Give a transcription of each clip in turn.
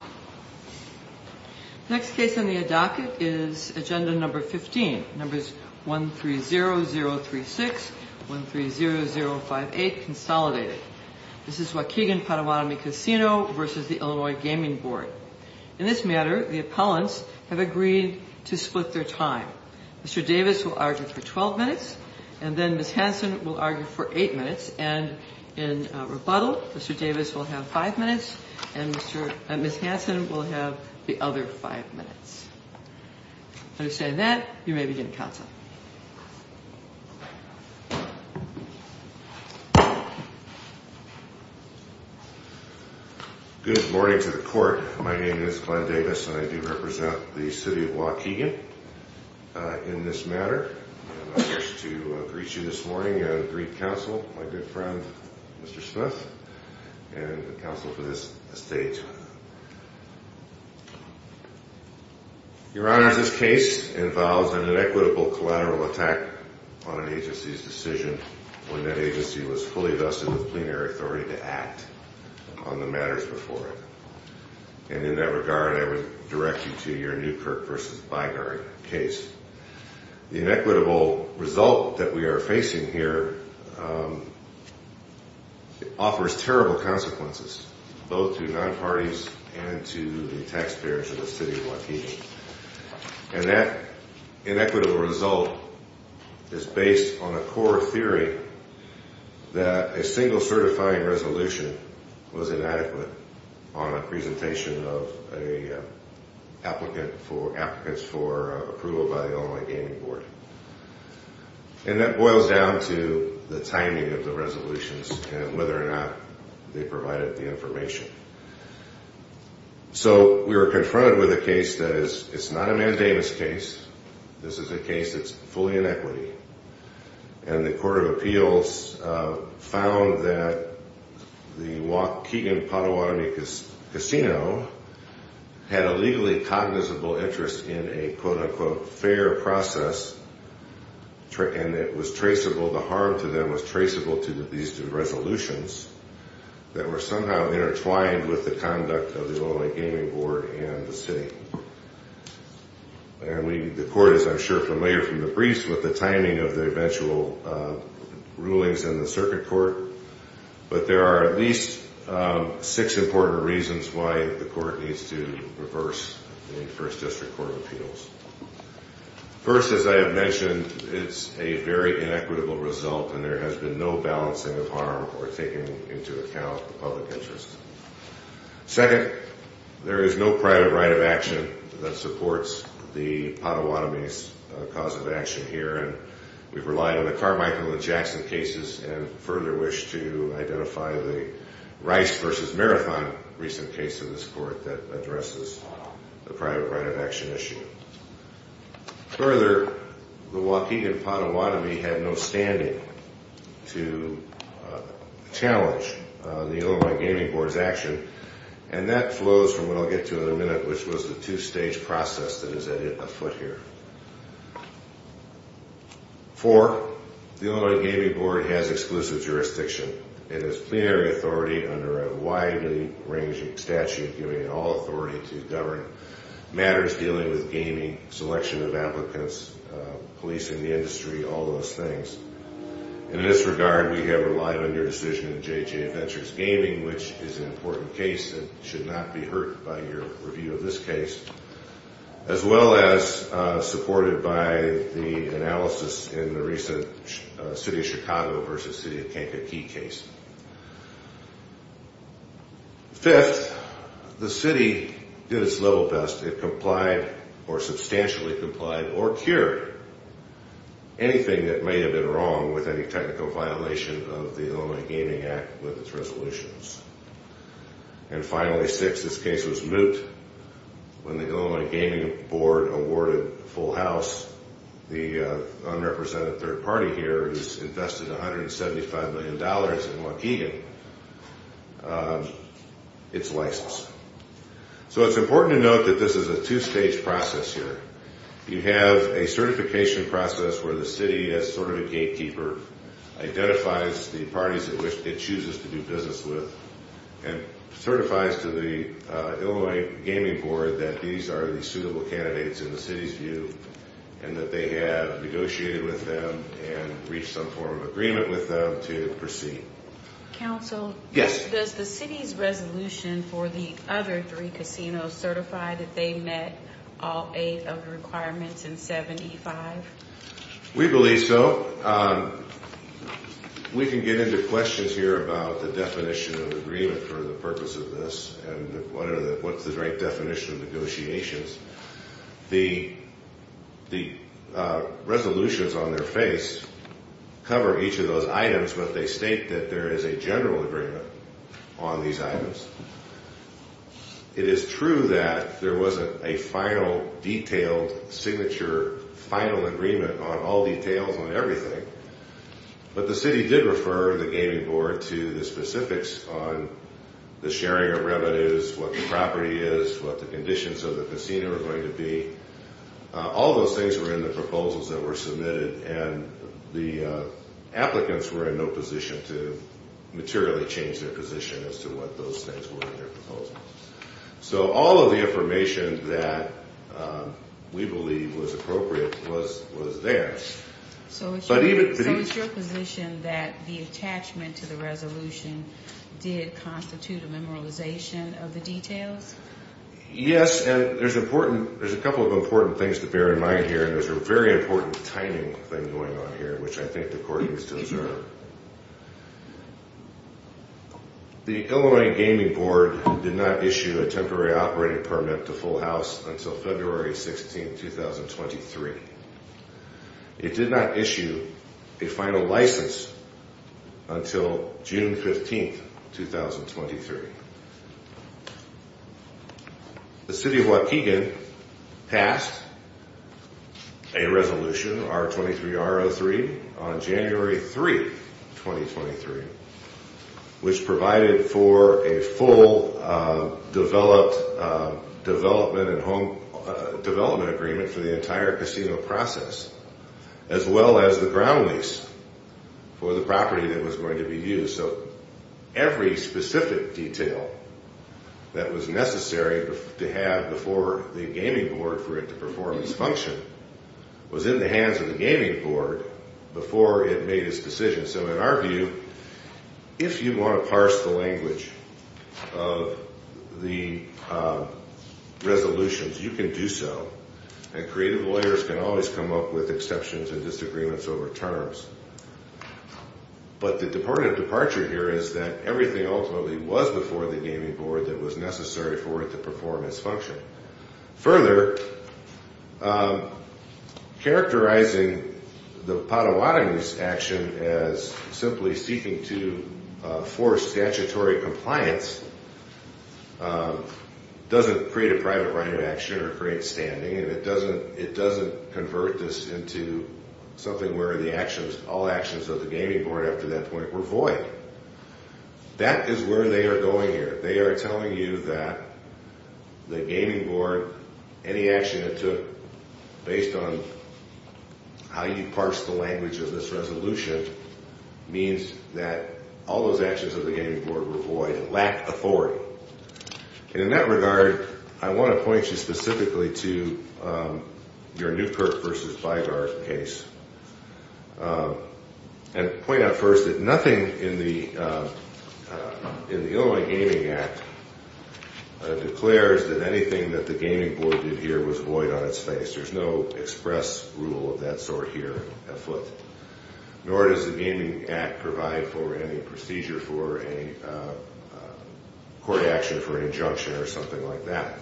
The next case on the docket is agenda number 15, numbers 130036, 130058, consolidated. This is Waukegan Potawatomi Casino v. Illinois Gaming Board. In this matter, the appellants have agreed to split their time. Mr. Davis will argue for 12 minutes, and then Ms. Hanson will argue for 8 minutes, and in rebuttal, Mr. Davis will have 5 minutes, and Ms. Hanson will have the other 5 minutes. With that, you may begin counsel. Good morning to the court. My name is Glenn Davis, and I do represent the city of Waukegan in this matter. And I wish to greet you this morning and greet counsel, my good friend, Mr. Smith, and counsel for this stage. Your Honor, this case involves an inequitable collateral attack on an agency's decision when that agency was fully vested with plenary authority to act on the matters before it. And in that regard, I would direct you to your Newkirk v. Bygarn case. The inequitable result that we are facing here offers terrible consequences, both to non-parties and to the taxpayers of the city of Waukegan. And that inequitable result is based on a core theory that a single certifying resolution was inadequate on a presentation of applicants for approval by the Illinois Gaming Board. And that boils down to the timing of the resolutions and whether or not they provided the information. So we were confronted with a case that is not a mandamus case. This is a case that's fully inequity. And the Court of Appeals found that the Waukegan Potawatomi Casino had a legally cognizable interest in a, quote, unquote, fair process, and it was traceable. The harm to them was traceable to these resolutions that were somehow intertwined with the conduct of the Illinois Gaming Board and the city. And the court is, I'm sure, familiar from the briefs with the timing of the eventual rulings in the circuit court. But there are at least six important reasons why the court needs to reverse the First District Court of Appeals. First, as I have mentioned, it's a very inequitable result, and there has been no balancing of harm or taking into account the public interest. Second, there is no private right of action that supports the Potawatomi's cause of action here. And we've relied on the Carmichael and Jackson cases and further wish to identify the Rice v. Marathon recent case in this court that addresses the private right of action issue. Further, the Waukegan Potawatomi had no standing to challenge the Illinois Gaming Board's action, and that flows from what I'll get to in a minute, which was the two-stage process that is at it afoot here. Four, the Illinois Gaming Board has exclusive jurisdiction. It has plenary authority under a widely ranging statute, giving it all authority to govern matters dealing with gaming, selection of applicants, policing the industry, all those things. In this regard, we have relied on your decision in J.J. Adventures Gaming, which is an important case and should not be hurt by your review of this case, as well as supported by the analysis in the recent City of Chicago v. City of Kankakee case. Fifth, the city did its little best. It complied or substantially complied or cured anything that may have been wrong with any technical violation of the Illinois Gaming Act with its resolutions. And finally, six, this case was moot when the Illinois Gaming Board awarded Full House, the unrepresented third party here who's invested $175 million in Waukegan, its license. So it's important to note that this is a two-stage process here. You have a certification process where the city, as sort of a gatekeeper, identifies the parties it chooses to do business with and certifies to the Illinois Gaming Board that these are the suitable candidates in the city's view and that they have negotiated with them and reached some form of agreement with them to proceed. Yes. Does the city's resolution for the other three casinos certify that they met all eight of the requirements in 75? We believe so. We can get into questions here about the definition of agreement for the purpose of this and what's the right definition of negotiations. The resolutions on their face cover each of those items, but they state that there is a general agreement on these items. It is true that there wasn't a final, detailed, signature, final agreement on all details on everything, but the city did refer the Gaming Board to the specifics on the sharing of revenues, what the property is, what the conditions of the casino are going to be. All those things were in the proposals that were submitted, and the applicants were in no position to materially change their position as to what those things were in their proposals. So all of the information that we believe was appropriate was there. So is your position that the attachment to the resolution did constitute a memorialization of the details? Yes, and there's a couple of important things to bear in mind here, and there's a very important timing thing going on here, which I think the court needs to observe. The Illinois Gaming Board did not issue a temporary operating permit to Full House until February 16, 2023. It did not issue a final license until June 15, 2023. The City of Waukegan passed a resolution, R23-R03, on January 3, 2023, which provided for a full development and home development agreement for the entire casino process, as well as the ground lease for the property that was going to be used. So every specific detail that was necessary to have before the Gaming Board for it to perform its function was in the hands of the Gaming Board before it made its decision. So in our view, if you want to parse the language of the resolutions, you can do so, and creative lawyers can always come up with exceptions and disagreements over terms. But the departure here is that everything ultimately was before the Gaming Board that was necessary for it to perform its function. Further, characterizing the Potawatomi's action as simply seeking to force statutory compliance doesn't create a private right of action or create standing, and it doesn't convert this into something where all actions of the Gaming Board after that point were void. That is where they are going here. They are telling you that the Gaming Board, any action it took based on how you parse the language of this resolution, means that all those actions of the Gaming Board were void and lacked authority. And in that regard, I want to point you specifically to your Newkirk v. Beigar case and point out first that nothing in the Illinois Gaming Act declares that anything that the Gaming Board did here was void on its face. There is no express rule of that sort here afoot. Nor does the Gaming Act provide for any procedure for a court action for an injunction or something like that.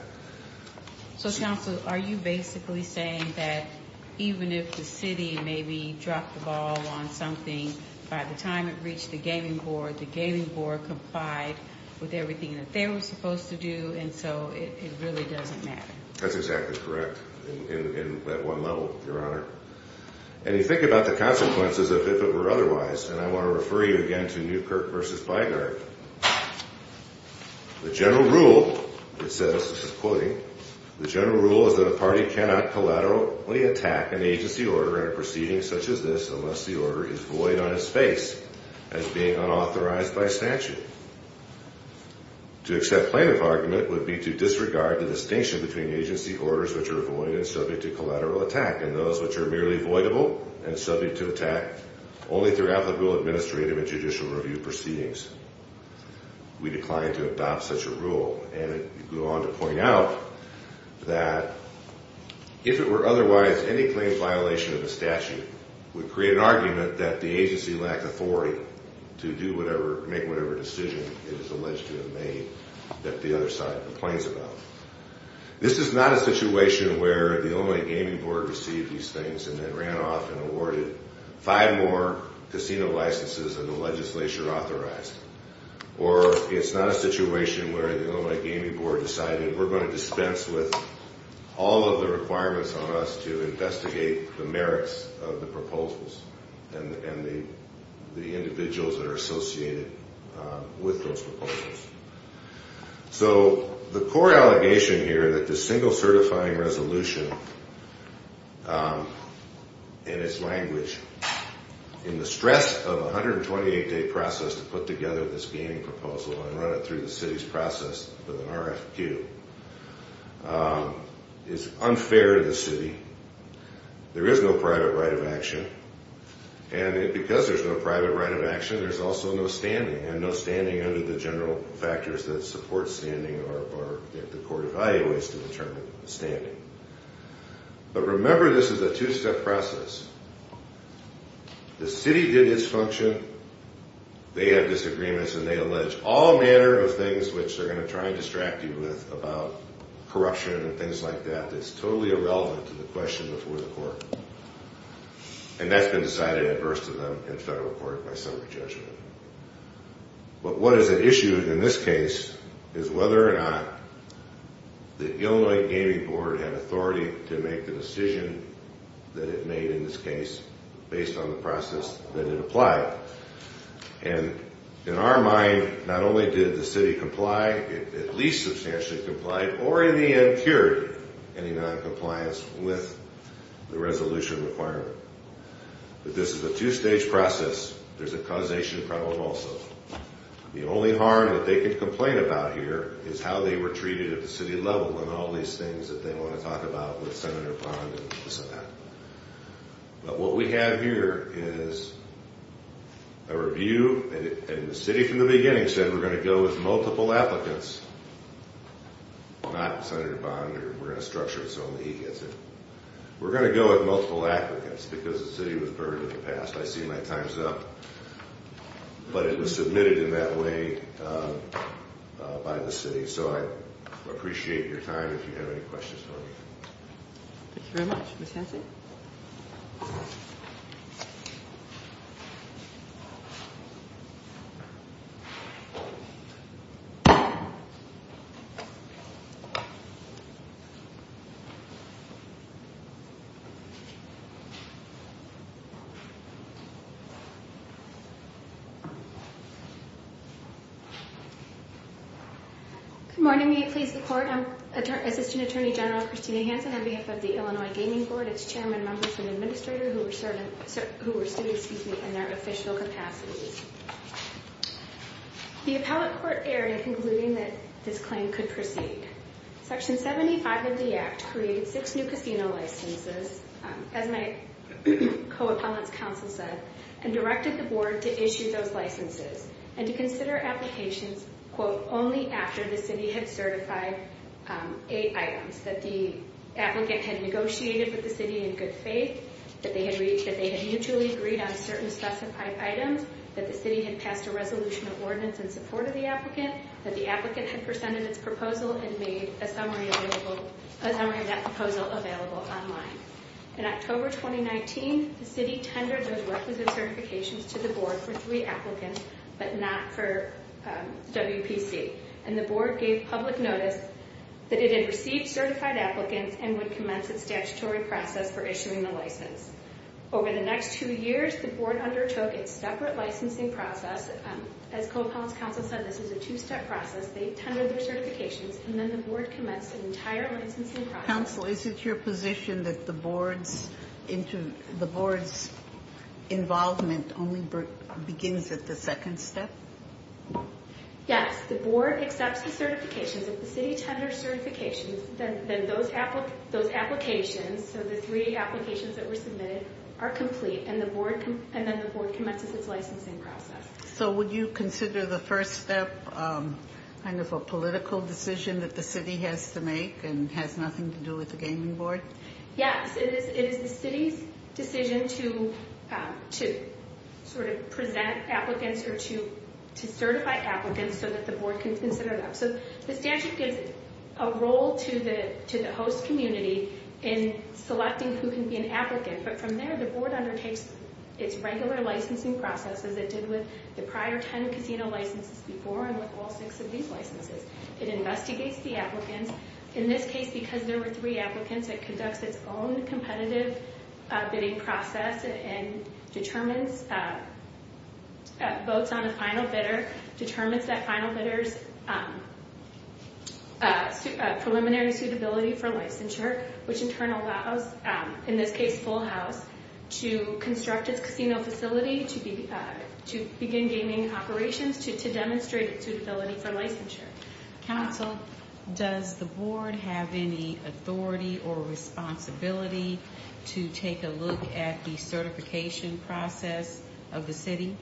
So, Counsel, are you basically saying that even if the city maybe dropped the ball on something, by the time it reached the Gaming Board, the Gaming Board complied with everything that they were supposed to do, and so it really doesn't matter? That's exactly correct in that one level, Your Honor. And you think about the consequences if it were otherwise, and I want to refer you again to Newkirk v. Beigar. The general rule, it says, this is quoting, the general rule is that a party cannot collaterally attack an agency order in a proceeding such as this unless the order is void on its face as being unauthorized by statute. To accept plaintiff argument would be to disregard the distinction between agency orders which are void and subject to collateral attack and those which are merely voidable and subject to attack only throughout the whole administrative and judicial review proceedings. We decline to adopt such a rule. And I go on to point out that if it were otherwise, any claims violation of the statute would create an argument that the agency lacked authority to do whatever, make whatever decision it is alleged to have made that the other side complains about. This is not a situation where the only Gaming Board received these things and then ran off and awarded five more casino licenses than the legislature authorized. Or it's not a situation where the only Gaming Board decided we're going to dispense with all of the requirements on us to investigate the merits of the proposals and the individuals that are associated with those proposals. So the core allegation here that the single certifying resolution in its language, in the stress of a 128-day process to put together this gaming proposal and run it through the city's process with an RFQ, is unfair to the city. There is no private right of action. And because there's no private right of action, there's also no standing. And no standing under the general factors that support standing or that the court evaluates to determine standing. But remember this is a two-step process. The city did its function. They have disagreements and they allege all manner of things which they're going to try and distract you with about corruption and things like that that's totally irrelevant to the question before the court. And that's been decided adverse to them in federal court by summary judgment. But what is at issue in this case is whether or not the Illinois Gaming Board had authority to make the decision that it made in this case based on the process that it applied. And in our mind, not only did the city comply, at least substantially complied, or in the end cured any noncompliance with the resolution requirement. But this is a two-stage process. There's a causation problem also. The only harm that they can complain about here is how they were treated at the city level and all these things that they want to talk about with Senator Bond and this and that. But what we have here is a review. And the city from the beginning said we're going to go with multiple applicants, not Senator Bond. We're going to structure it so only he gets it. We're going to go with multiple applicants because the city was burdened in the past. I see my time's up. But it was submitted in that way by the city. So I appreciate your time if you have any questions for me. Thank you very much. Ms. Hanson? Good morning. May it please the Court? I'm Assistant Attorney General Christina Hanson on behalf of the Illinois Gaming Board. It's chairmen, members, and administrators who were students in their official capacities. The appellate court erred in concluding that this claim could proceed. Section 75 of the Act created six new casino licenses, as my co-appellant's counsel said, and directed the board to issue those licenses and to consider applications, quote, only after the city had certified eight items, that the applicant had negotiated with the city in good faith, that they had mutually agreed on certain specified items, that the city had passed a resolution of ordinance in support of the applicant, that the applicant had presented its proposal and made a summary of that proposal available online. In October 2019, the city tendered those requisite certifications to the board for three applicants, but not for WPC. And the board gave public notice that it had received certified applicants and would commence its statutory process for issuing the license. Over the next two years, the board undertook its separate licensing process. As co-appellant's counsel said, this is a two-step process. They tendered their certifications, and then the board commenced an entire licensing process. Counsel, is it your position that the board's involvement only begins at the second step? Yes, the board accepts the certifications. If the city tenders certifications, then those applications, so the three applications that were submitted, are complete, and then the board commences its licensing process. So would you consider the first step kind of a political decision that the city has to make and has nothing to do with the gaming board? Yes, it is the city's decision to sort of present applicants or to certify applicants so that the board can consider them. So the statute gives a role to the host community in selecting who can be an applicant, but from there, the board undertakes its regular licensing process as it did with the prior ten casino licenses before and with all six of these licenses. It investigates the applicants. In this case, because there were three applicants, it conducts its own competitive bidding process and determines votes on a final bidder, determines that final bidder's preliminary suitability for licensure, which in turn allows, in this case, Full House, to construct its casino facility to begin gaming operations to demonstrate its suitability for licensure. Counsel, does the board have any authority or responsibility to take a look at the certification process of the city?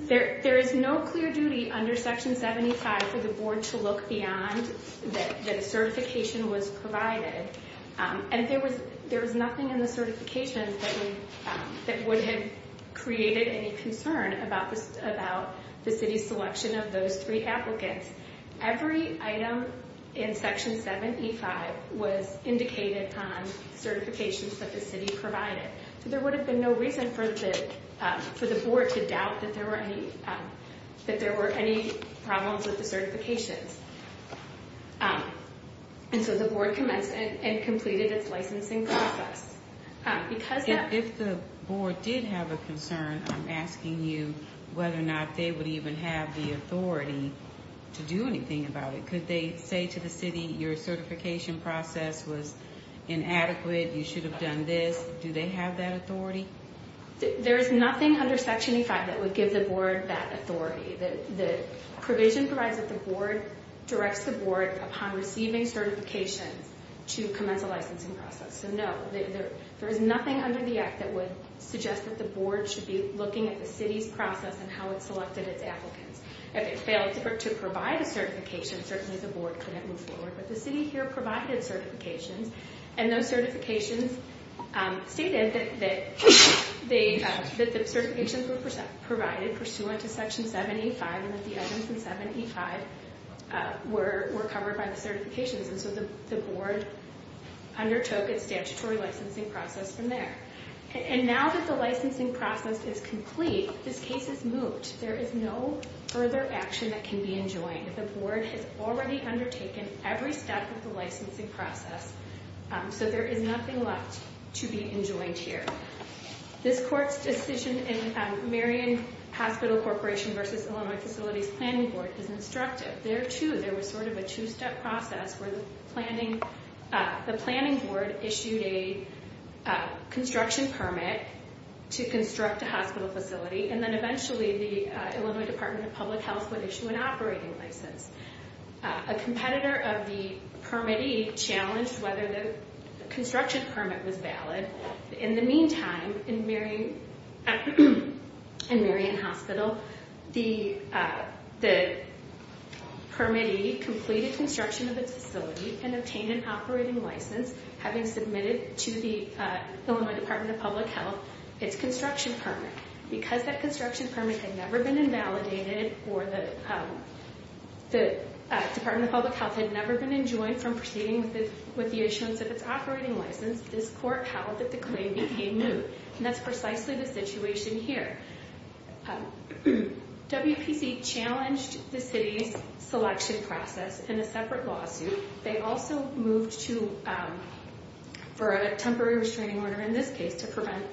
There is no clear duty under Section 7E5 for the board to look beyond that a certification was provided, and there was nothing in the certification that would have created any concern about the city's selection of those three applicants. Every item in Section 7E5 was indicated on certifications that the city provided. There would have been no reason for the board to doubt that there were any problems with the certifications. And so the board commenced and completed its licensing process. If the board did have a concern, I'm asking you whether or not they would even have the authority to do anything about it. Could they say to the city, your certification process was inadequate, you should have done this? Do they have that authority? There is nothing under Section 7E5 that would give the board that authority. The provision provides that the board directs the board, upon receiving certifications, to commence a licensing process. So no, there is nothing under the act that would suggest that the board should be looking at the city's process and how it selected its applicants. If it failed to provide a certification, certainly the board couldn't move forward. But the city here provided certifications, and those certifications stated that the certifications were provided pursuant to Section 7E5, and that the items in 7E5 were covered by the certifications. And so the board undertook its statutory licensing process from there. And now that the licensing process is complete, this case is moved. There is no further action that can be enjoined. The board has already undertaken every step of the licensing process, so there is nothing left to be enjoined here. This court's decision in Marion Hospital Corporation v. Illinois Facilities Planning Board is instructive. There, too, there was sort of a two-step process where the planning board issued a construction permit to construct a hospital facility, and then eventually the Illinois Department of Public Health would issue an operating license. A competitor of the Permit E challenged whether the construction permit was valid. In the meantime, in Marion Hospital, the Permit E completed construction of its facility and obtained an operating license, having submitted to the Illinois Department of Public Health its construction permit. Because that construction permit had never been invalidated, or the Department of Public Health had never been enjoined from proceeding with the issuance of its operating license, this court held that the claim became new. And that's precisely the situation here. WPC challenged the city's selection process in a separate lawsuit. They also moved for a temporary restraining order in this case to prevent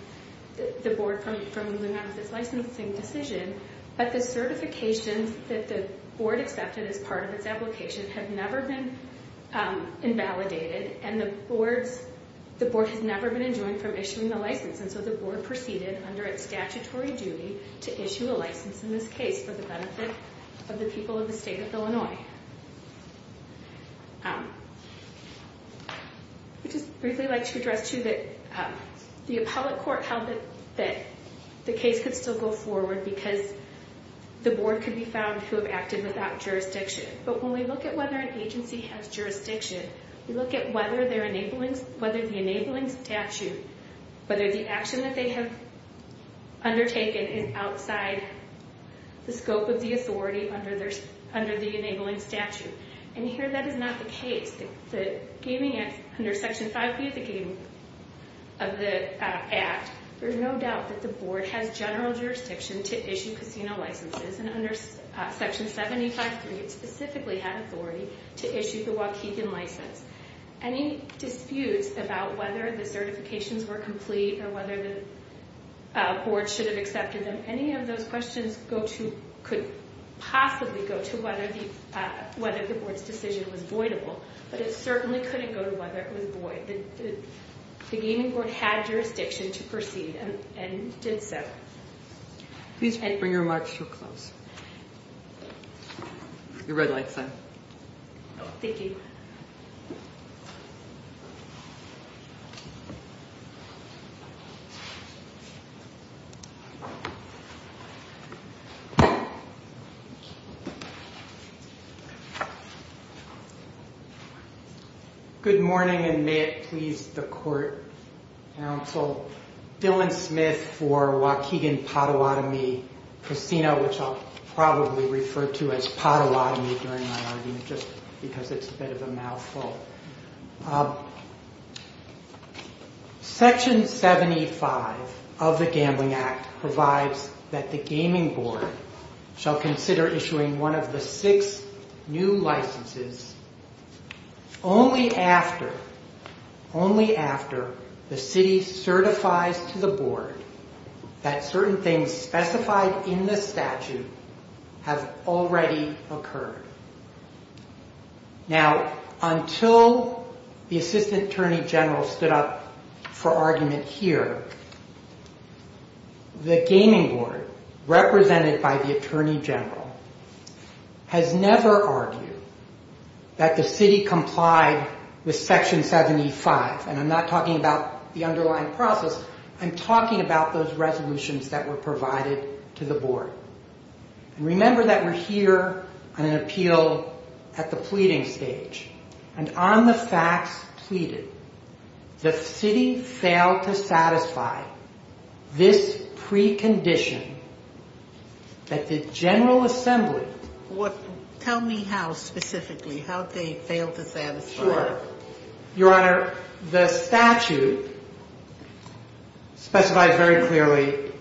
the board from moving on with its licensing decision. But the certifications that the board accepted as part of its application have never been invalidated, and the board has never been enjoined from issuing the license. And so the board proceeded under its statutory duty to issue a license in this case for the benefit of the people of the state of Illinois. I'd just briefly like to address, too, that the appellate court held that the case could still go forward because the board could be found to have acted without jurisdiction. But when we look at whether an agency has jurisdiction, we look at whether the enabling statute, whether the action that they have undertaken is outside the scope of the authority under the enabling statute. And here that is not the case. Under Section 5B of the Act, there's no doubt that the board has general jurisdiction to issue casino licenses, and under Section 75.3, it specifically had authority to issue the Waukegan license. Any disputes about whether the certifications were complete or whether the board should have accepted them, any of those questions could possibly go to whether the board's decision was voidable, but it certainly couldn't go to whether it was void. The gaming board had jurisdiction to proceed and did so. Please bring your remarks to a close. Your red light's on. Thank you. Good morning, and may it please the court, counsel, Dylan Smith for Waukegan Potawatomi Casino, which I'll probably refer to as Potawatomi during my argument just because it's a bit of a mouthful. Section 75 of the Gambling Act provides that the gaming board shall consider issuing one of the six new licenses only after the city certifies to the board that certain things specified in the statute have already occurred. Now, until the Assistant Attorney General stood up for argument here, the gaming board, represented by the Attorney General, has never argued that the city complied with Section 75, and I'm not talking about the underlying process. I'm talking about those resolutions that were provided to the board. Remember that we're here on an appeal at the pleading stage, and on the facts pleaded, the city failed to satisfy this precondition that the General Assembly... Tell me how specifically, how they failed to satisfy it. Sure. Your Honor, the statute specifies very clearly,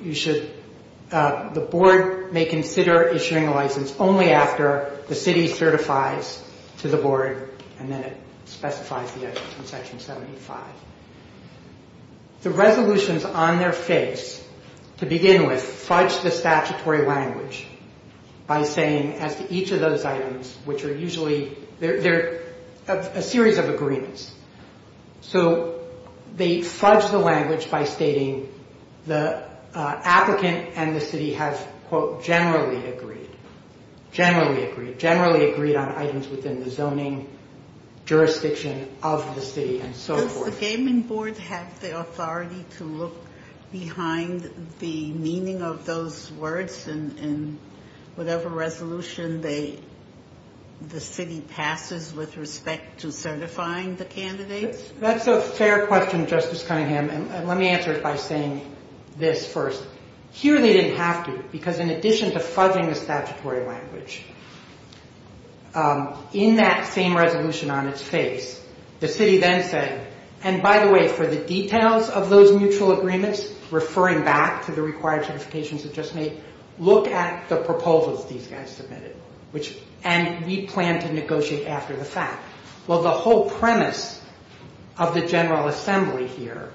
the board may consider issuing a license only after the city certifies to the board, and then it specifies the other things in Section 75. The resolutions on their face, to begin with, fudge the statutory language by saying as to each of those items, which are usually... They're a series of agreements. So they fudge the language by stating the applicant and the city have, quote, generally agreed, generally agreed, generally agreed on items within the zoning, jurisdiction of the city, and so forth. Does the gaming board have the authority to look behind the meaning of those words in whatever resolution the city passes with respect to certifying the candidates? That's a fair question, Justice Cunningham, and let me answer it by saying this first. Here they didn't have to, because in addition to fudging the statutory language, in that same resolution on its face, the city then said, and by the way, for the details of those mutual agreements, referring back to the required certifications that Justice made, look at the proposals these guys submitted, and we plan to negotiate after the fact. Well, the whole premise of the General Assembly here,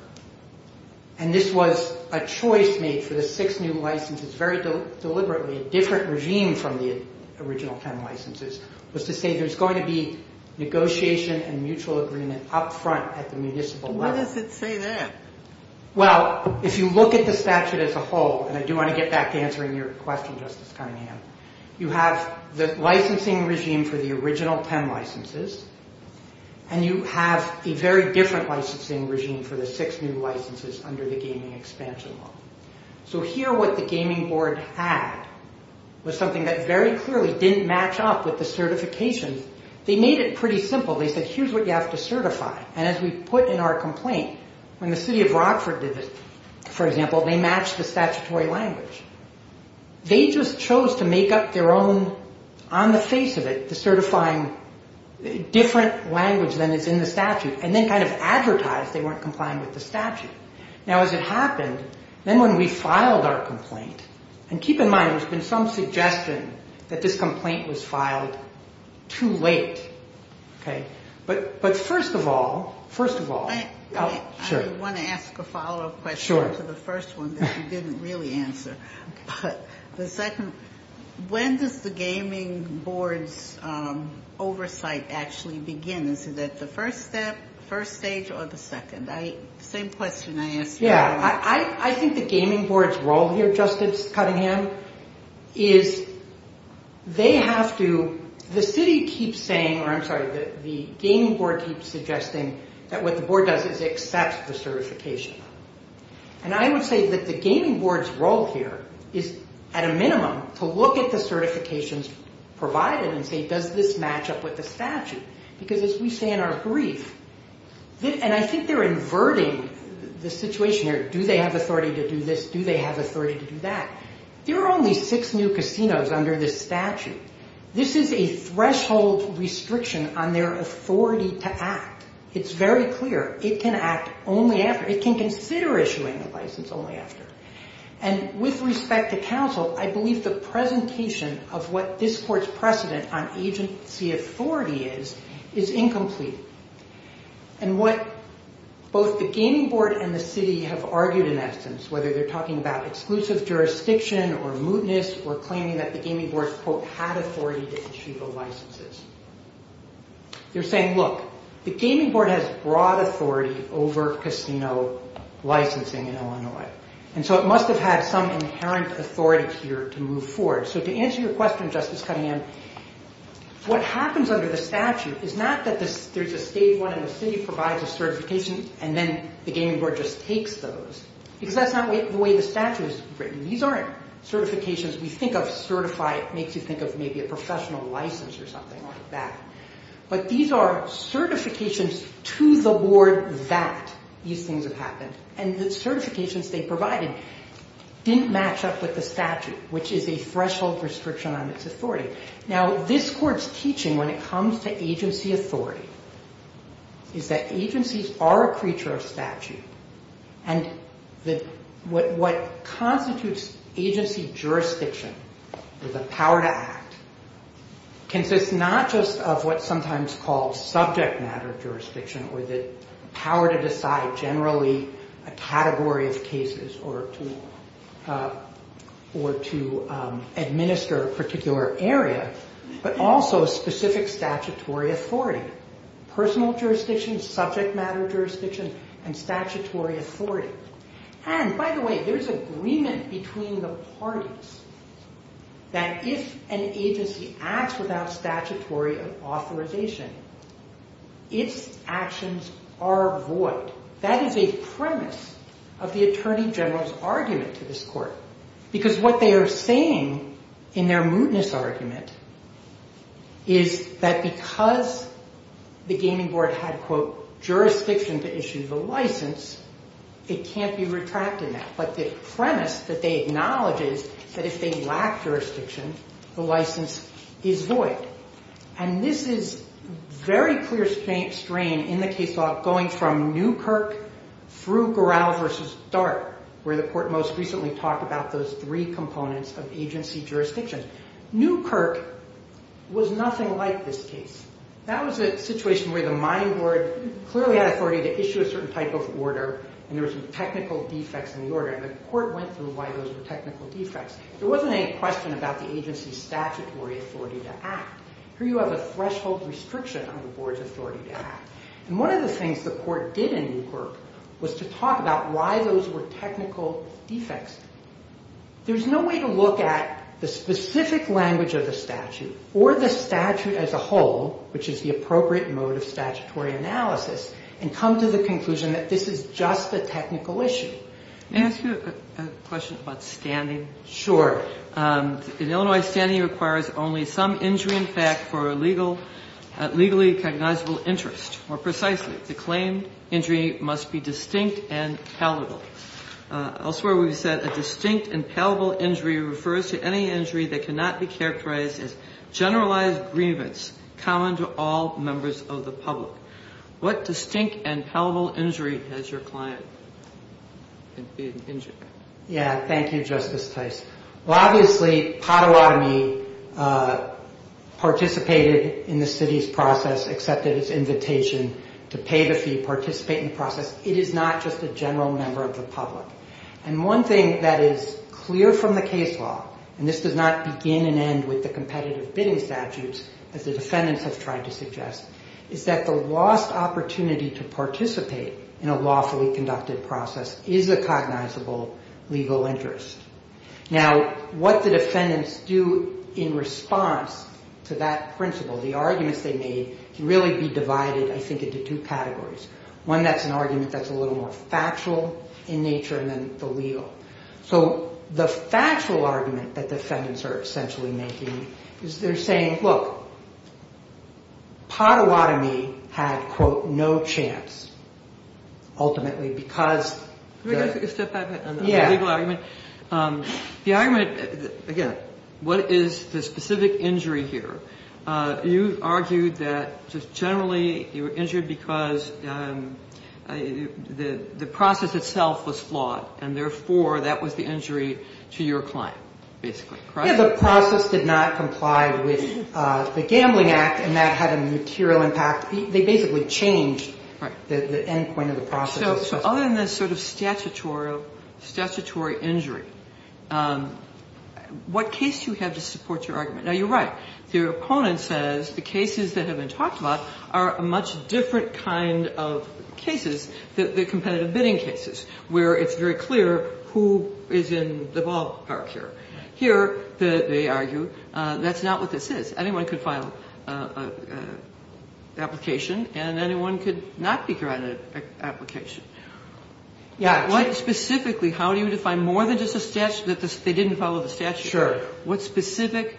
and this was a choice made for the six new licenses very deliberately, a different regime from the original 10 licenses, was to say there's going to be negotiation and mutual agreement up front at the municipal level. Why does it say that? Well, if you look at the statute as a whole, and I do want to get back to answering your question, Justice Cunningham, you have the licensing regime for the original 10 licenses, and you have a very different licensing regime for the six new licenses under the gaming expansion law. So here what the gaming board had was something that very clearly didn't match up with the certification. They made it pretty simple. They said, here's what you have to certify, and as we put in our complaint, when the city of Rockford did it, for example, they matched the statutory language. They just chose to make up their own, on the face of it, the certifying different language than is in the statute, and then kind of advertised they weren't complying with the statute. Now, as it happened, then when we filed our complaint, and keep in mind there's been some suggestion that this complaint was filed too late. But first of all, first of all, sure. I want to ask a follow-up question to the first one that you didn't really answer. But the second, when does the gaming board's oversight actually begin? Is it at the first step, first stage, or the second? Same question I asked you. Yeah, I think the gaming board's role here, Justice Cunningham, is they have to, the city keeps saying, or I'm sorry, the gaming board keeps suggesting that what the board does is accept the certification. And I would say that the gaming board's role here is, at a minimum, to look at the certifications provided and say, does this match up with the statute? Because as we say in our brief, and I think they're inverting the situation here. Do they have authority to do this? Do they have authority to do that? There are only six new casinos under this statute. This is a threshold restriction on their authority to act. It's very clear it can act only after, it can consider issuing a license only after. And with respect to counsel, I believe the presentation of what this court's precedent on agency authority is, is incomplete. And what both the gaming board and the city have argued in essence, whether they're talking about exclusive jurisdiction or mootness or claiming that the gaming board's, quote, had authority to issue the licenses. They're saying, look, the gaming board has broad authority over casino licensing in Illinois. And so it must have had some inherent authority here to move forward. So to answer your question, Justice Cunningham, what happens under the statute is not that there's a stage one and the city provides a certification and then the gaming board just takes those. Because that's not the way the statute is written. These aren't certifications we think of certified, makes you think of maybe a professional license or something like that. But these are certifications to the board that these things have happened. And the certifications they provided didn't match up with the statute, which is a threshold restriction on its authority. Now, this court's teaching when it comes to agency authority is that agencies are a creature of statute. And what constitutes agency jurisdiction or the power to act consists not just of what's sometimes called subject matter jurisdiction or the power to decide generally a category of cases or to administer a particular area, but also specific statutory authority. Personal jurisdiction, subject matter jurisdiction, and statutory authority. And, by the way, there's agreement between the parties that if an agency acts without statutory authorization, its actions are void. That is a premise of the Attorney General's argument to this court. Because what they are saying in their mootness argument is that because the gaming board had, quote, jurisdiction to issue the license, it can't be retracted now. But the premise that they acknowledge is that if they lack jurisdiction, the license is void. And this is very clear strain in the case law going from Newkirk through Gorrell v. Dart, where the court most recently talked about those three components of agency jurisdiction. Newkirk was nothing like this case. That was a situation where the mining board clearly had authority to issue a certain type of order, and there were some technical defects in the order. And the court went through why those were technical defects. There wasn't any question about the agency's statutory authority to act. Here you have a threshold restriction on the board's authority to act. And one of the things the court did in Newkirk was to talk about why those were technical defects. There's no way to look at the specific language of the statute or the statute as a whole, which is the appropriate mode of statutory analysis, and come to the conclusion that this is just a technical issue. Can I ask you a question about standing? Sure. In Illinois, standing requires only some injury in fact for a legally recognizable interest. More precisely, the claim injury must be distinct and palatable. Elsewhere we've said a distinct and palatable injury refers to any injury that cannot be characterized as generalized grievance common to all members of the public. What distinct and palatable injury has your client been injured? Yeah, thank you, Justice Tice. Well, obviously, Pottawatomie participated in the city's process, accepted its invitation to pay the fee, participate in the process. It is not just a general member of the public. And one thing that is clear from the case law, and this does not begin and end with the competitive bidding statutes, as the defendants have tried to suggest, is that the lost opportunity to participate in a lawfully conducted process is a cognizable legal interest. Now, what the defendants do in response to that principle, the arguments they made can really be divided, I think, into two categories. One, that's an argument that's a little more factual in nature than the legal. So the factual argument that defendants are essentially making is they're saying, look, Pottawatomie had, quote, no chance, ultimately, because the legal argument. The argument, again, what is the specific injury here? You argued that just generally you were injured because the process itself was flawed, and therefore that was the injury to your client, basically. The process did not comply with the Gambling Act, and that had a material impact. They basically changed the end point of the process. So other than this sort of statutory injury, what case do you have to support your argument? Now, you're right. The opponent says the cases that have been talked about are a much different kind of cases than the competitive bidding cases, where it's very clear who is in the ballpark here. They argue that's not what this is. Anyone could file an application, and anyone could not be granted an application. Specifically, how do you define more than just a statute, that they didn't follow the statute? Sure. What specific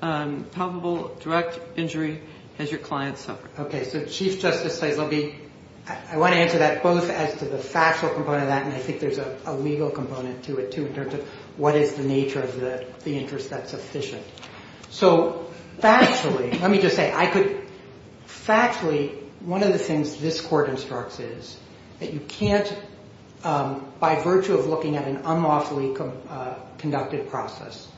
probable direct injury has your client suffered? Okay, so Chief Justice says, I want to answer that both as to the factual component of that, and I think there's a legal component to it, too, in terms of what is the nature of the interest that's sufficient. So factually, let me just say, factually, one of the things this Court instructs is that you can't, by virtue of looking at an unlawfully conducted process,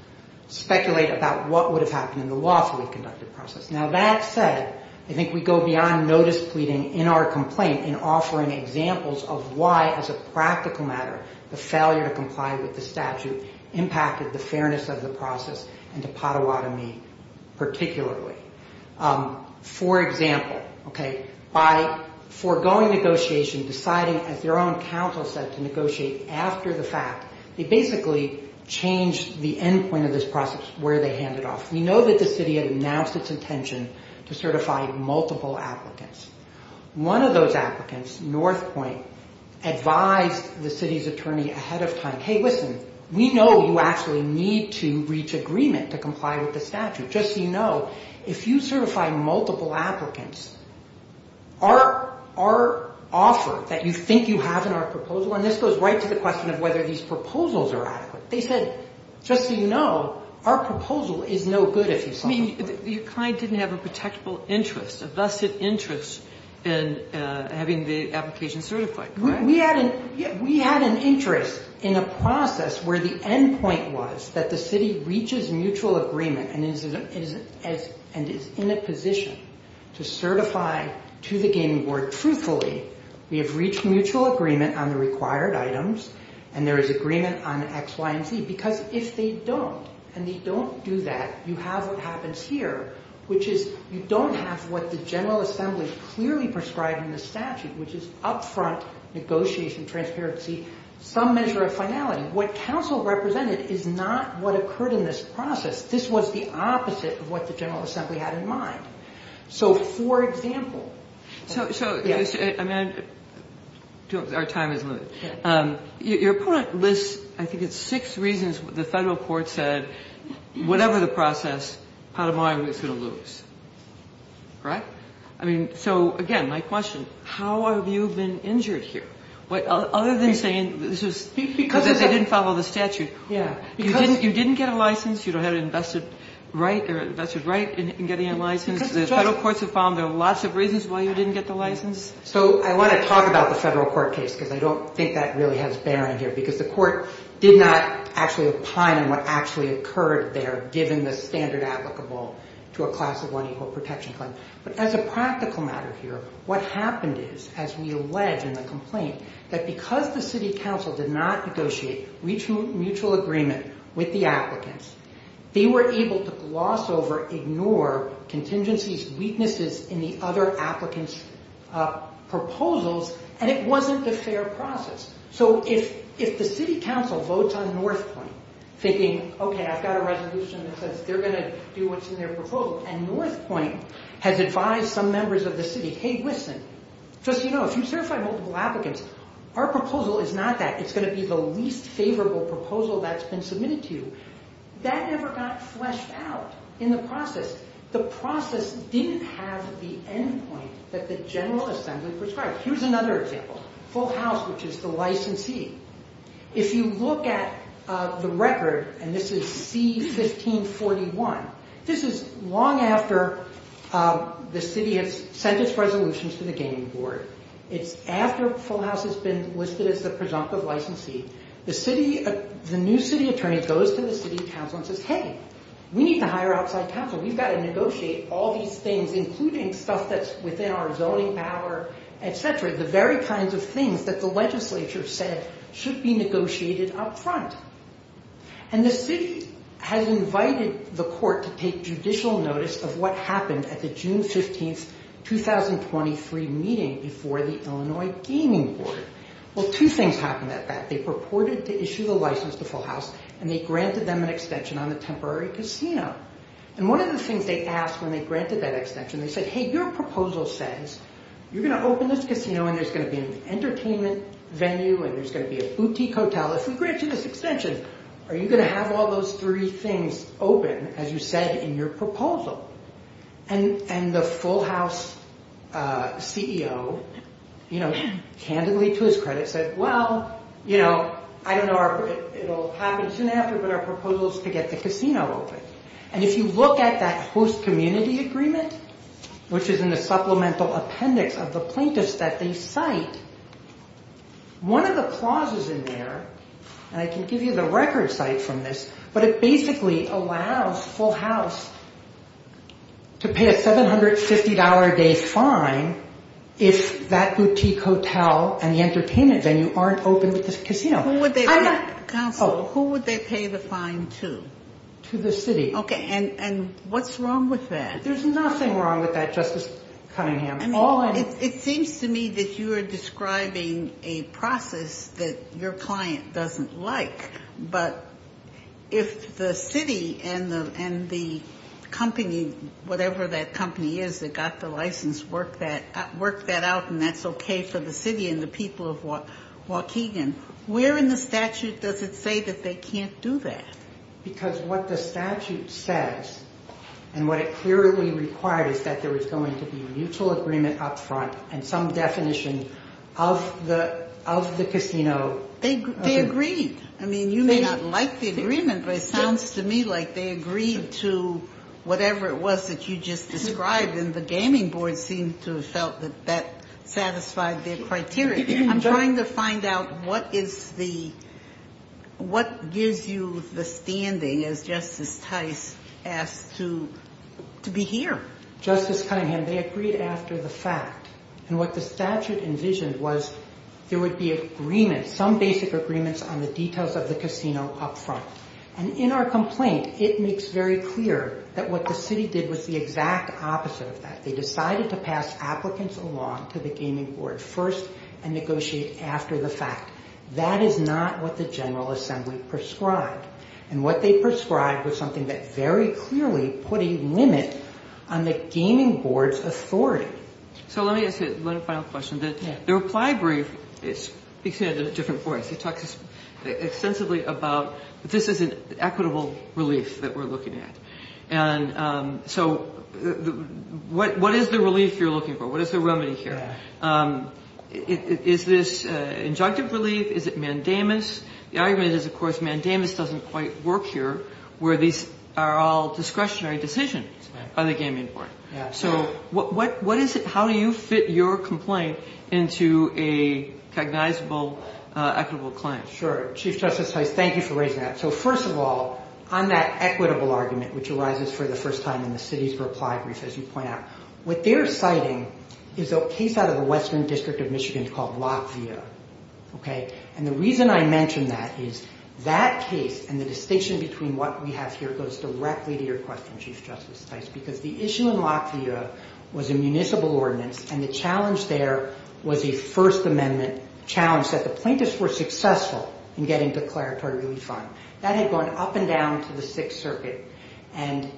speculate about what would have happened in the lawfully conducted process. Now, that said, I think we go beyond notice pleading in our complaint and offering examples of why, as a practical matter, the failure to comply with the statute impacted the fairness of the process, and to Potawatomi particularly. For example, by foregoing negotiation, deciding, as their own counsel said, to negotiate after the fact, they basically changed the end point of this process where they hand it off. We know that the city had announced its intention to certify multiple applicants. One of those applicants, Northpointe, advised the city's attorney ahead of time, hey, listen, we know you actually need to reach agreement to comply with the statute. Just so you know, if you certify multiple applicants, our offer that you think you have in our proposal, and this goes right to the question of whether these proposals are adequate. They said, just so you know, our proposal is no good if you sign it. I mean, you kind of didn't have a protectable interest, a vested interest in having the application certified, right? We had an interest in a process where the end point was that the city reaches mutual agreement and is in a position to certify to the gaming board truthfully, we have reached mutual agreement on the required items, and there is agreement on X, Y, and Z. Because if they don't, and they don't do that, you have what happens here, which is you don't have what the General Assembly clearly prescribed in the statute, which is upfront negotiation, transparency, some measure of finality. What counsel represented is not what occurred in this process. This was the opposite of what the General Assembly had in mind. So, for example, I mean, our time is limited. Your opponent lists, I think it's six reasons the Federal court said, whatever the process, Patamon was going to lose, right? I mean, so, again, my question, how have you been injured here? Other than saying this was because they didn't follow the statute. You didn't get a license. You don't have an invested right or a vested right in getting a license. The Federal courts have found there are lots of reasons why you didn't get the license. So I want to talk about the Federal court case, because I don't think that really has bearing here, because the court did not actually opine on what actually occurred there, given the standard applicable to a class of unequal protection claim. But as a practical matter here, what happened is, as we allege in the complaint, that because the city council did not negotiate mutual agreement with the applicants, they were able to gloss over, ignore contingencies, weaknesses in the other applicants' proposals, and it wasn't a fair process. So if the city council votes on North Point, thinking, okay, I've got a resolution that says they're going to do what's in their proposal, and North Point has advised some members of the city, hey, listen, just so you know, if you certify multiple applicants, our proposal is not that. It's going to be the least favorable proposal that's been submitted to you. That never got fleshed out in the process. The process didn't have the end point that the General Assembly prescribed. Here's another example. Full House, which is the licensee. If you look at the record, and this is C-1541, this is long after the city has sent its resolutions to the gaming board. It's after Full House has been listed as the presumptive licensee. The new city attorney goes to the city council and says, hey, we need to hire outside counsel. We've got to negotiate all these things, including stuff that's within our zoning power, et cetera, the very kinds of things that the legislature said should be negotiated up front. And the city has invited the court to take judicial notice of what happened at the June 15, 2023 meeting before the Illinois gaming board. Well, two things happened at that. They purported to issue the license to Full House, and they granted them an extension on the temporary casino. And one of the things they asked when they granted that extension, they said, hey, your proposal says you're going to open this casino and there's going to be an entertainment venue and there's going to be a boutique hotel. If we grant you this extension, are you going to have all those three things open, as you said, in your proposal? And the Full House CEO, candidly to his credit, said, well, I don't know if it will happen soon after, but our proposal is to get the casino open. And if you look at that host community agreement, which is in the supplemental appendix of the plaintiffs that they cite, one of the clauses in there, and I can give you the record cite from this, but it basically allows Full House to pay a $750-a-day fine if that boutique hotel and the entertainment venue aren't open with this casino. Counsel, who would they pay the fine to? To the city. Okay, and what's wrong with that? There's nothing wrong with that, Justice Cunningham. It seems to me that you are describing a process that your client doesn't like, but if the city and the company, whatever that company is that got the license, worked that out and that's okay for the city and the people of Waukegan, where in the statute does it say that they can't do that? Because what the statute says and what it clearly requires is that there is going to be a mutual agreement up front and some definition of the casino. They agreed. I mean, you may not like the agreement, but it sounds to me like they agreed to whatever it was that you just described and the gaming board seemed to have felt that that satisfied their criteria. I'm trying to find out what gives you the standing, as Justice Tice asked, to be here. Justice Cunningham, they agreed after the fact, and what the statute envisioned was there would be agreements, some basic agreements on the details of the casino up front, and in our complaint, it makes very clear that what the city did was the exact opposite of that. They decided to pass applicants along to the gaming board first and negotiate after the fact. That is not what the General Assembly prescribed, and what they prescribed was something that very clearly put a limit on the gaming board's authority. So let me ask you one final question. The reply brief, because you had a different voice, you talked extensively about this is an equitable relief that we're looking at. So what is the relief you're looking for? What is the remedy here? Is this injunctive relief? Is it mandamus? The argument is, of course, mandamus doesn't quite work here where these are all discretionary decisions by the gaming board. So how do you fit your complaint into a cognizable equitable claim? Sure. Chief Justice Tice, thank you for raising that. So first of all, on that equitable argument, which arises for the first time in the city's reply brief, as you point out, what they're citing is a case out of the Western District of Michigan called Latvia, and the reason I mention that is that case and the distinction between what we have here goes directly to your question, Chief Justice Tice, because the issue in Latvia was a municipal ordinance and the challenge there was a First Amendment challenge that the plaintiffs were successful in getting declaratory relief on. That had gone up and down to the Sixth Circuit and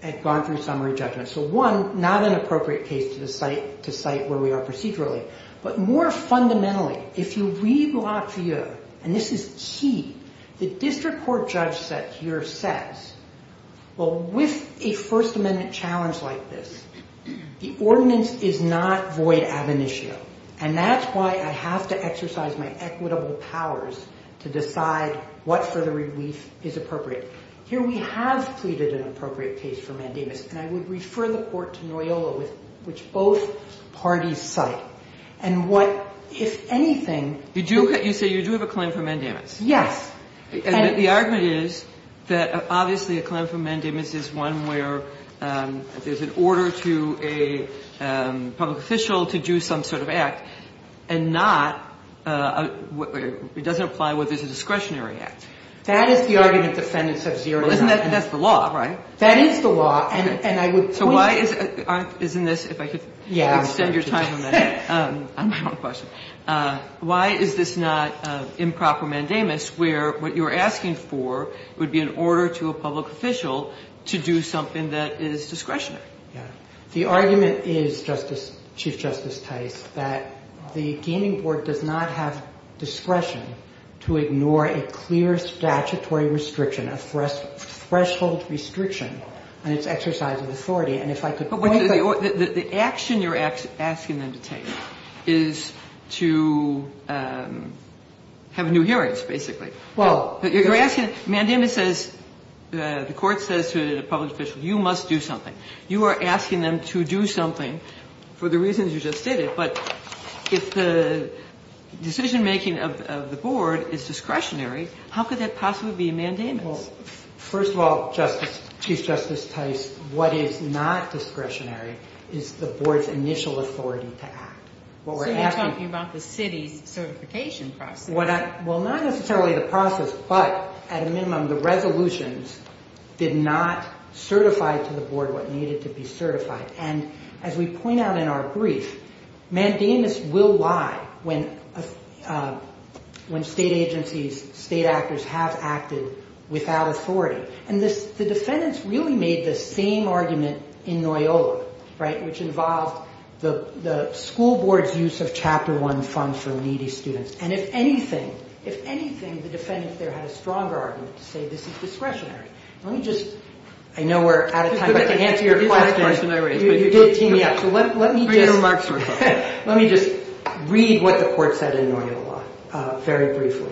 had gone through summary judgment. So one, not an appropriate case to cite where we are procedurally, but more fundamentally, if you read Latvia, and this is key, the district court judge here says, well, with a First Amendment challenge like this, the ordinance is not void ab initio, and that's why I have to exercise my equitable powers to decide what further relief is appropriate. Here we have pleaded an appropriate case for mandamus, and I would refer the court to Noyola, which both parties cite, and what, if anything... You say you do have a claim for mandamus? Yes. And the argument is that obviously a claim for mandamus is one where there's an order to a public official to do some sort of act, and not where it doesn't apply where there's a discretionary act. That is the argument defendants have zeroed out. Well, isn't that, that's the law, right? That is the law, and I would... So why is, isn't this, if I could extend your time a minute. I'm out of questions. Why is this not improper mandamus, where what you're asking for would be an order to a public official to do something that is discretionary? The argument is, Chief Justice Tice, that the Gaming Board does not have discretion to ignore a clear statutory restriction, a threshold restriction on its exercise of authority, and if I could... The action you're asking them to take is to have new hearings, basically. Well... You're asking, mandamus says, the court says to the public official, you must do something. You are asking them to do something for the reasons you just stated, but if the decision-making of the board is discretionary, how could that possibly be a mandamus? Well, first of all, Justice, Chief Justice Tice, what is not discretionary is the board's initial authority to act. So you're talking about the city's certification process. Well, not necessarily the process, but at a minimum the resolutions did not certify to the board what needed to be certified. And as we point out in our brief, mandamus will lie when state agencies, state actors have acted without authority. And the defendants really made the same argument in Noyola, right, which involved the school board's use of Chapter 1 funds for needy students. And if anything, if anything, the defendants there had a stronger argument to say this is discretionary. Let me just... I know we're out of time, but to answer your question, you did tee me up, so let me just... Let me just read what the court said in Noyola very briefly.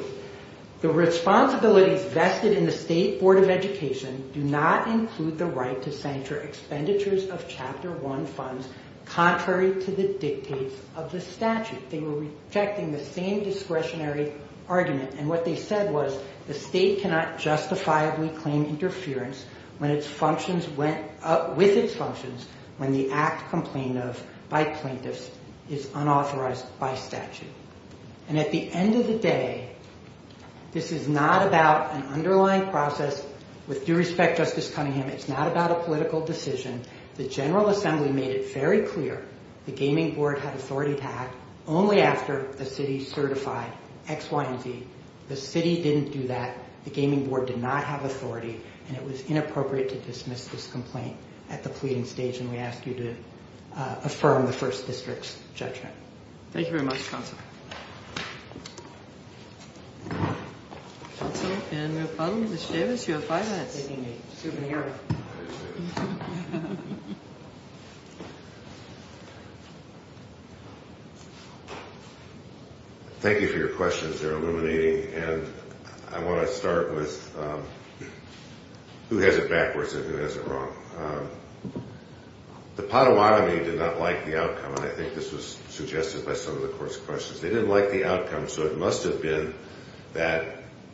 The responsibilities vested in the state board of education do not include the right to censure expenditures of Chapter 1 funds contrary to the dictates of the statute. They were rejecting the same discretionary argument. And what they said was the state cannot justifiably claim interference with its functions when the act complained of by plaintiffs is unauthorized by statute. And at the end of the day, this is not about an underlying process. With due respect, Justice Cunningham, it's not about a political decision. The General Assembly made it very clear the gaming board had authority to act only after the city certified X, Y, and Z. The city didn't do that. The gaming board did not have authority, and it was inappropriate to dismiss this complaint at the pleading stage, and we ask you to affirm the First District's judgment. Thank you very much, Counsel. Thank you for your questions. They're illuminating, and I want to start with who has it backwards and who has it wrong. The Potawatomi did not like the outcome, and I think this was suggested by some of the court's questions. They didn't like the outcome, so it must have been that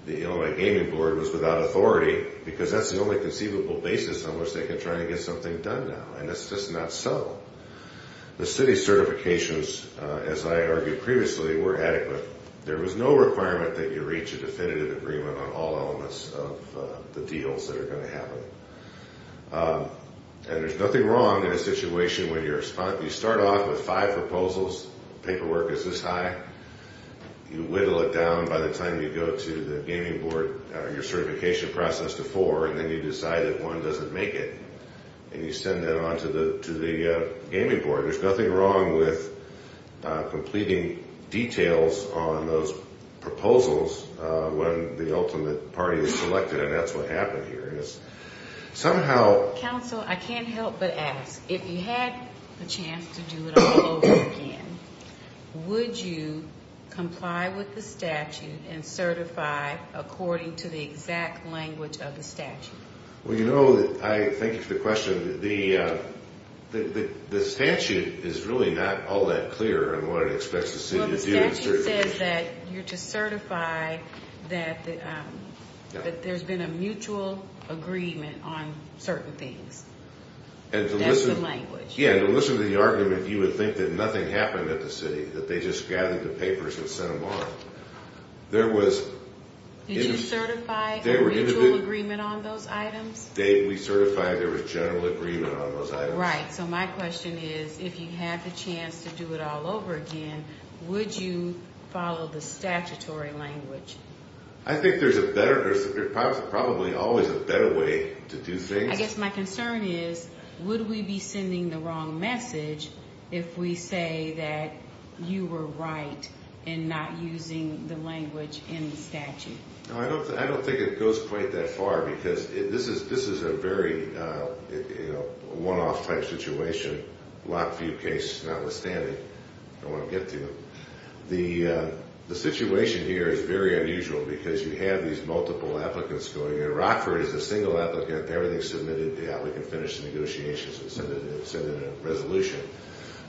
the Illinois Gaming Board was without authority because that's the only conceivable basis on which they can try to get something done now, and that's just not so. The city certifications, as I argued previously, were adequate. There was no requirement that you reach a definitive agreement on all elements of the deals that are going to happen. And there's nothing wrong in a situation where you start off with five proposals, paperwork is this high, you whittle it down by the time you go to the gaming board, your certification process to four, and then you decide that one doesn't make it, and you send that on to the gaming board. There's nothing wrong with completing details on those proposals when the ultimate party is selected, and that's what happened here. Counsel, I can't help but ask. If you had the chance to do it all over again, would you comply with the statute and certify according to the exact language of the statute? Well, you know, thank you for the question. The statute is really not all that clear in what it expects the city to do. Well, the statute says that you're to certify that there's been a mutual agreement on certain things. That's the language. Yeah, and to listen to the argument, you would think that nothing happened at the city, that they just gathered the papers and sent them on. Did you certify a mutual agreement on those items? We certified there was general agreement on those items. Right, so my question is, if you had the chance to do it all over again, would you follow the statutory language? I think there's probably always a better way to do things. I guess my concern is, would we be sending the wrong message if we say that you were right in not using the language in the statute? I don't think it goes quite that far because this is a very one-off type situation, Lockview case notwithstanding, if I want to get to it. The situation here is very unusual because you have these multiple applicants going in. Rockford is a single applicant. Everything's submitted. Yeah, we can finish the negotiations and send in a resolution.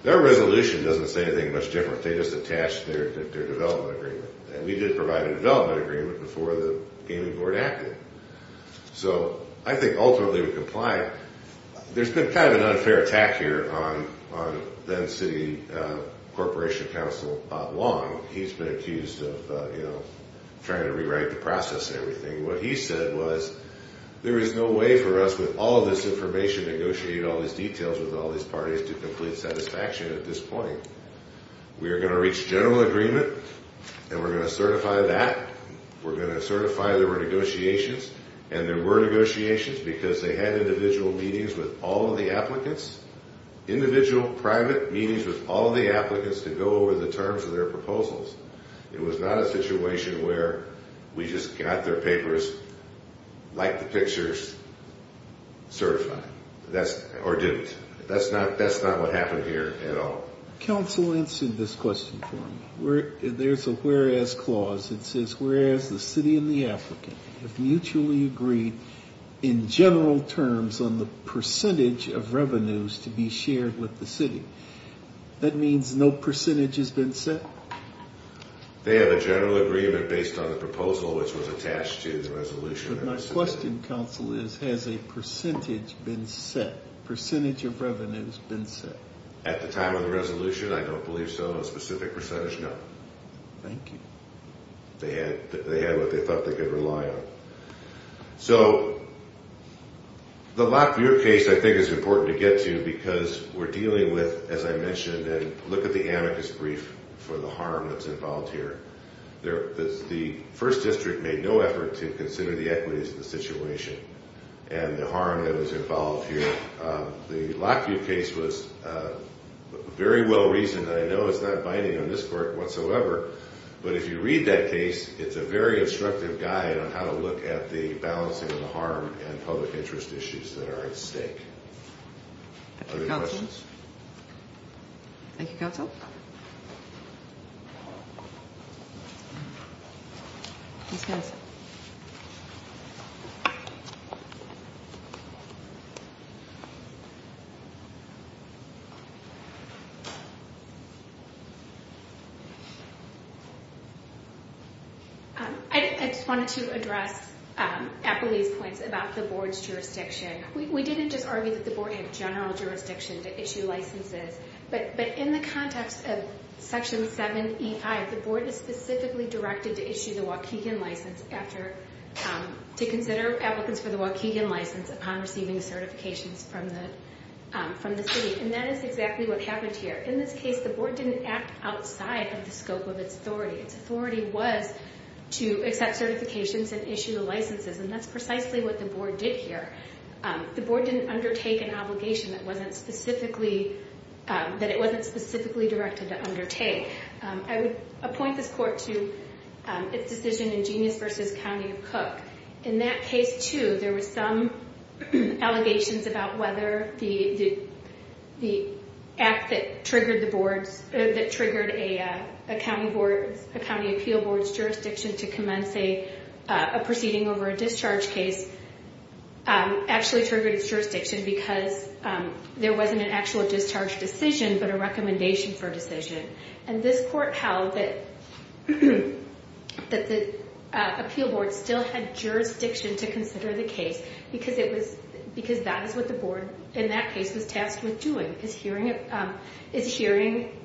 Their resolution doesn't say anything much different. They just attach their development agreement. And we did provide a development agreement before the gaming board acted. So I think ultimately we complied. There's been kind of an unfair attack here on then-City Corporation Counsel Bob Long. He's been accused of trying to rewrite the process and everything. What he said was, there is no way for us, with all of this information, to negotiate all these details with all these parties to complete satisfaction at this point. We are going to reach general agreement, and we're going to certify that. We're going to certify there were negotiations. And there were negotiations because they had individual meetings with all of the applicants, individual private meetings with all of the applicants to go over the terms of their proposals. It was not a situation where we just got their papers, liked the pictures, certified. Or didn't. That's not what happened here at all. Counsel answered this question for me. There's a whereas clause that says, whereas the City and the applicant have mutually agreed, in general terms, on the percentage of revenues to be shared with the City. That means no percentage has been set? They have a general agreement based on the proposal, which was attached to the resolution. But my question, Counsel, is, has a percentage been set? A percentage of revenues been set? At the time of the resolution, I don't believe so. A specific percentage, no. Thank you. They had what they thought they could rely on. So, the lack of your case, I think, is important to get to because we're dealing with, as I mentioned, and look at the amicus brief for the harm that's involved here. The 1st District made no effort to consider the equities of the situation and the harm that was involved here. The Lockheed case was very well reasoned. I know it's not binding on this Court whatsoever, but if you read that case, it's a very instructive guide on how to look at the balancing of the harm and public interest issues that are at stake. Other questions? Thank you, Counsel. I just wanted to address Appleby's points about the Board's jurisdiction. We didn't just argue that the Board had general jurisdiction to issue licenses, but in the context of Section 7E5, the Board is specifically directed to issue the Waukegan license to consider applicants for the Waukegan license upon receiving certifications from the City, and that is exactly what happened here. In this case, the Board didn't act outside of the scope of its authority. Its authority was to accept certifications and issue licenses, and that's precisely what the Board did here. The Board didn't undertake an obligation that it wasn't specifically directed to undertake. I would appoint this Court to its decision in Genius v. County of Cook. In that case, too, there were some allegations about whether the act that triggered a County Appeal Board's jurisdiction to commence a proceeding over a discharge case actually triggered its jurisdiction because there wasn't an actual discharge decision but a recommendation for a decision, and this Court held that the Appeal Board still had jurisdiction to consider the case because that is what the Board in that case was tasked with doing, is hearing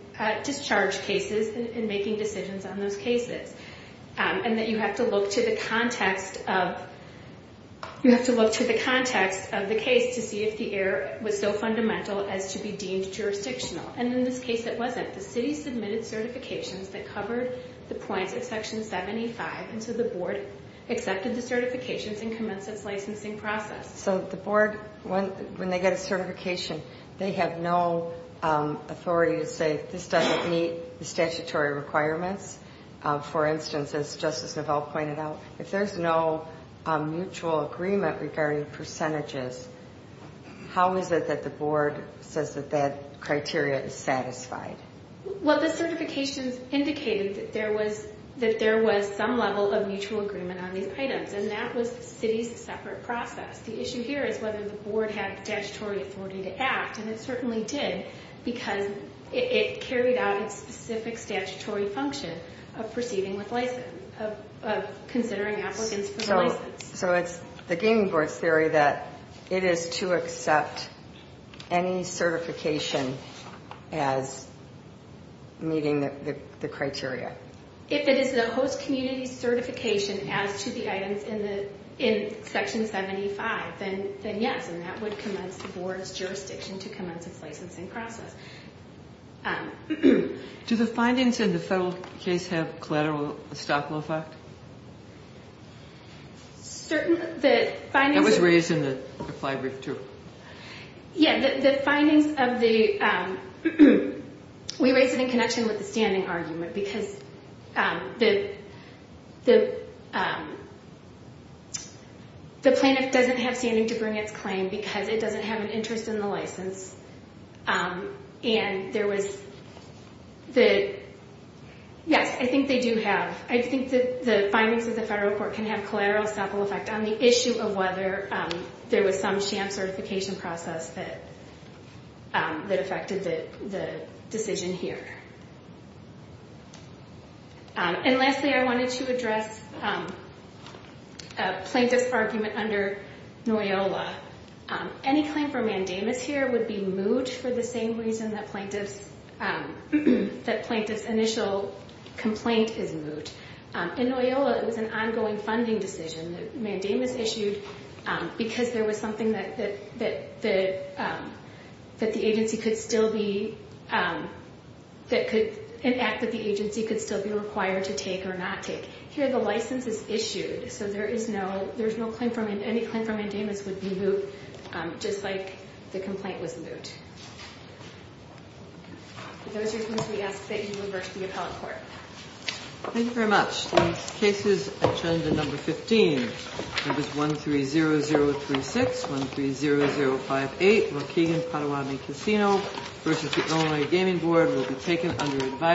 discharge cases and making decisions on those cases, and that you have to look to the context of the case to see if the error was so fundamental as to be deemed jurisdictional, and in this case it wasn't. The City submitted certifications that covered the points of Section 75, and so the Board accepted the certifications and commenced its licensing process. Yes, so the Board, when they get a certification, they have no authority to say this doesn't meet the statutory requirements. For instance, as Justice Novell pointed out, if there's no mutual agreement regarding percentages, how is it that the Board says that that criteria is satisfied? Well, the certifications indicated that there was some level of mutual agreement on these items, and that was the City's separate process. The issue here is whether the Board had statutory authority to act, and it certainly did because it carried out its specific statutory function of proceeding with licensing, of considering applicants for the license. So it's the Gaming Board's theory that it is to accept any certification as meeting the criteria? If it is the host community's certification as to the items in Section 75, then yes, and that would commence the Board's jurisdiction to commence its licensing process. Do the findings in the federal case have collateral stock low fact? Certainly, the findings... That was raised in the flag brief too. Yeah, the findings of the... We raised it in connection with the standing argument because the plaintiff doesn't have standing to bring its claim because it doesn't have an interest in the license, and there was the... Yes, I think they do have... I think the findings of the federal court can have collateral stock low fact on the issue of whether there was some sham certification process that affected the decision here. And lastly, I wanted to address a plaintiff's argument under NOYOLA. Any claim for mandamus here would be moot for the same reason that plaintiff's initial complaint is moot. In NOYOLA, it was an ongoing funding decision that mandamus issued because there was something that the agency could still be... An act that the agency could still be required to take or not take. Here, the license is issued, so there is no claim for... Any claim for mandamus would be moot, just like the complaint was moot. Those are things we ask that you deliver to the appellate court. Thank you very much. The next case is agenda number 15. Numbers 130036, 130058, Waukegan Potawatomi Casino v. Illinois Gaming Board will be taken under advisory.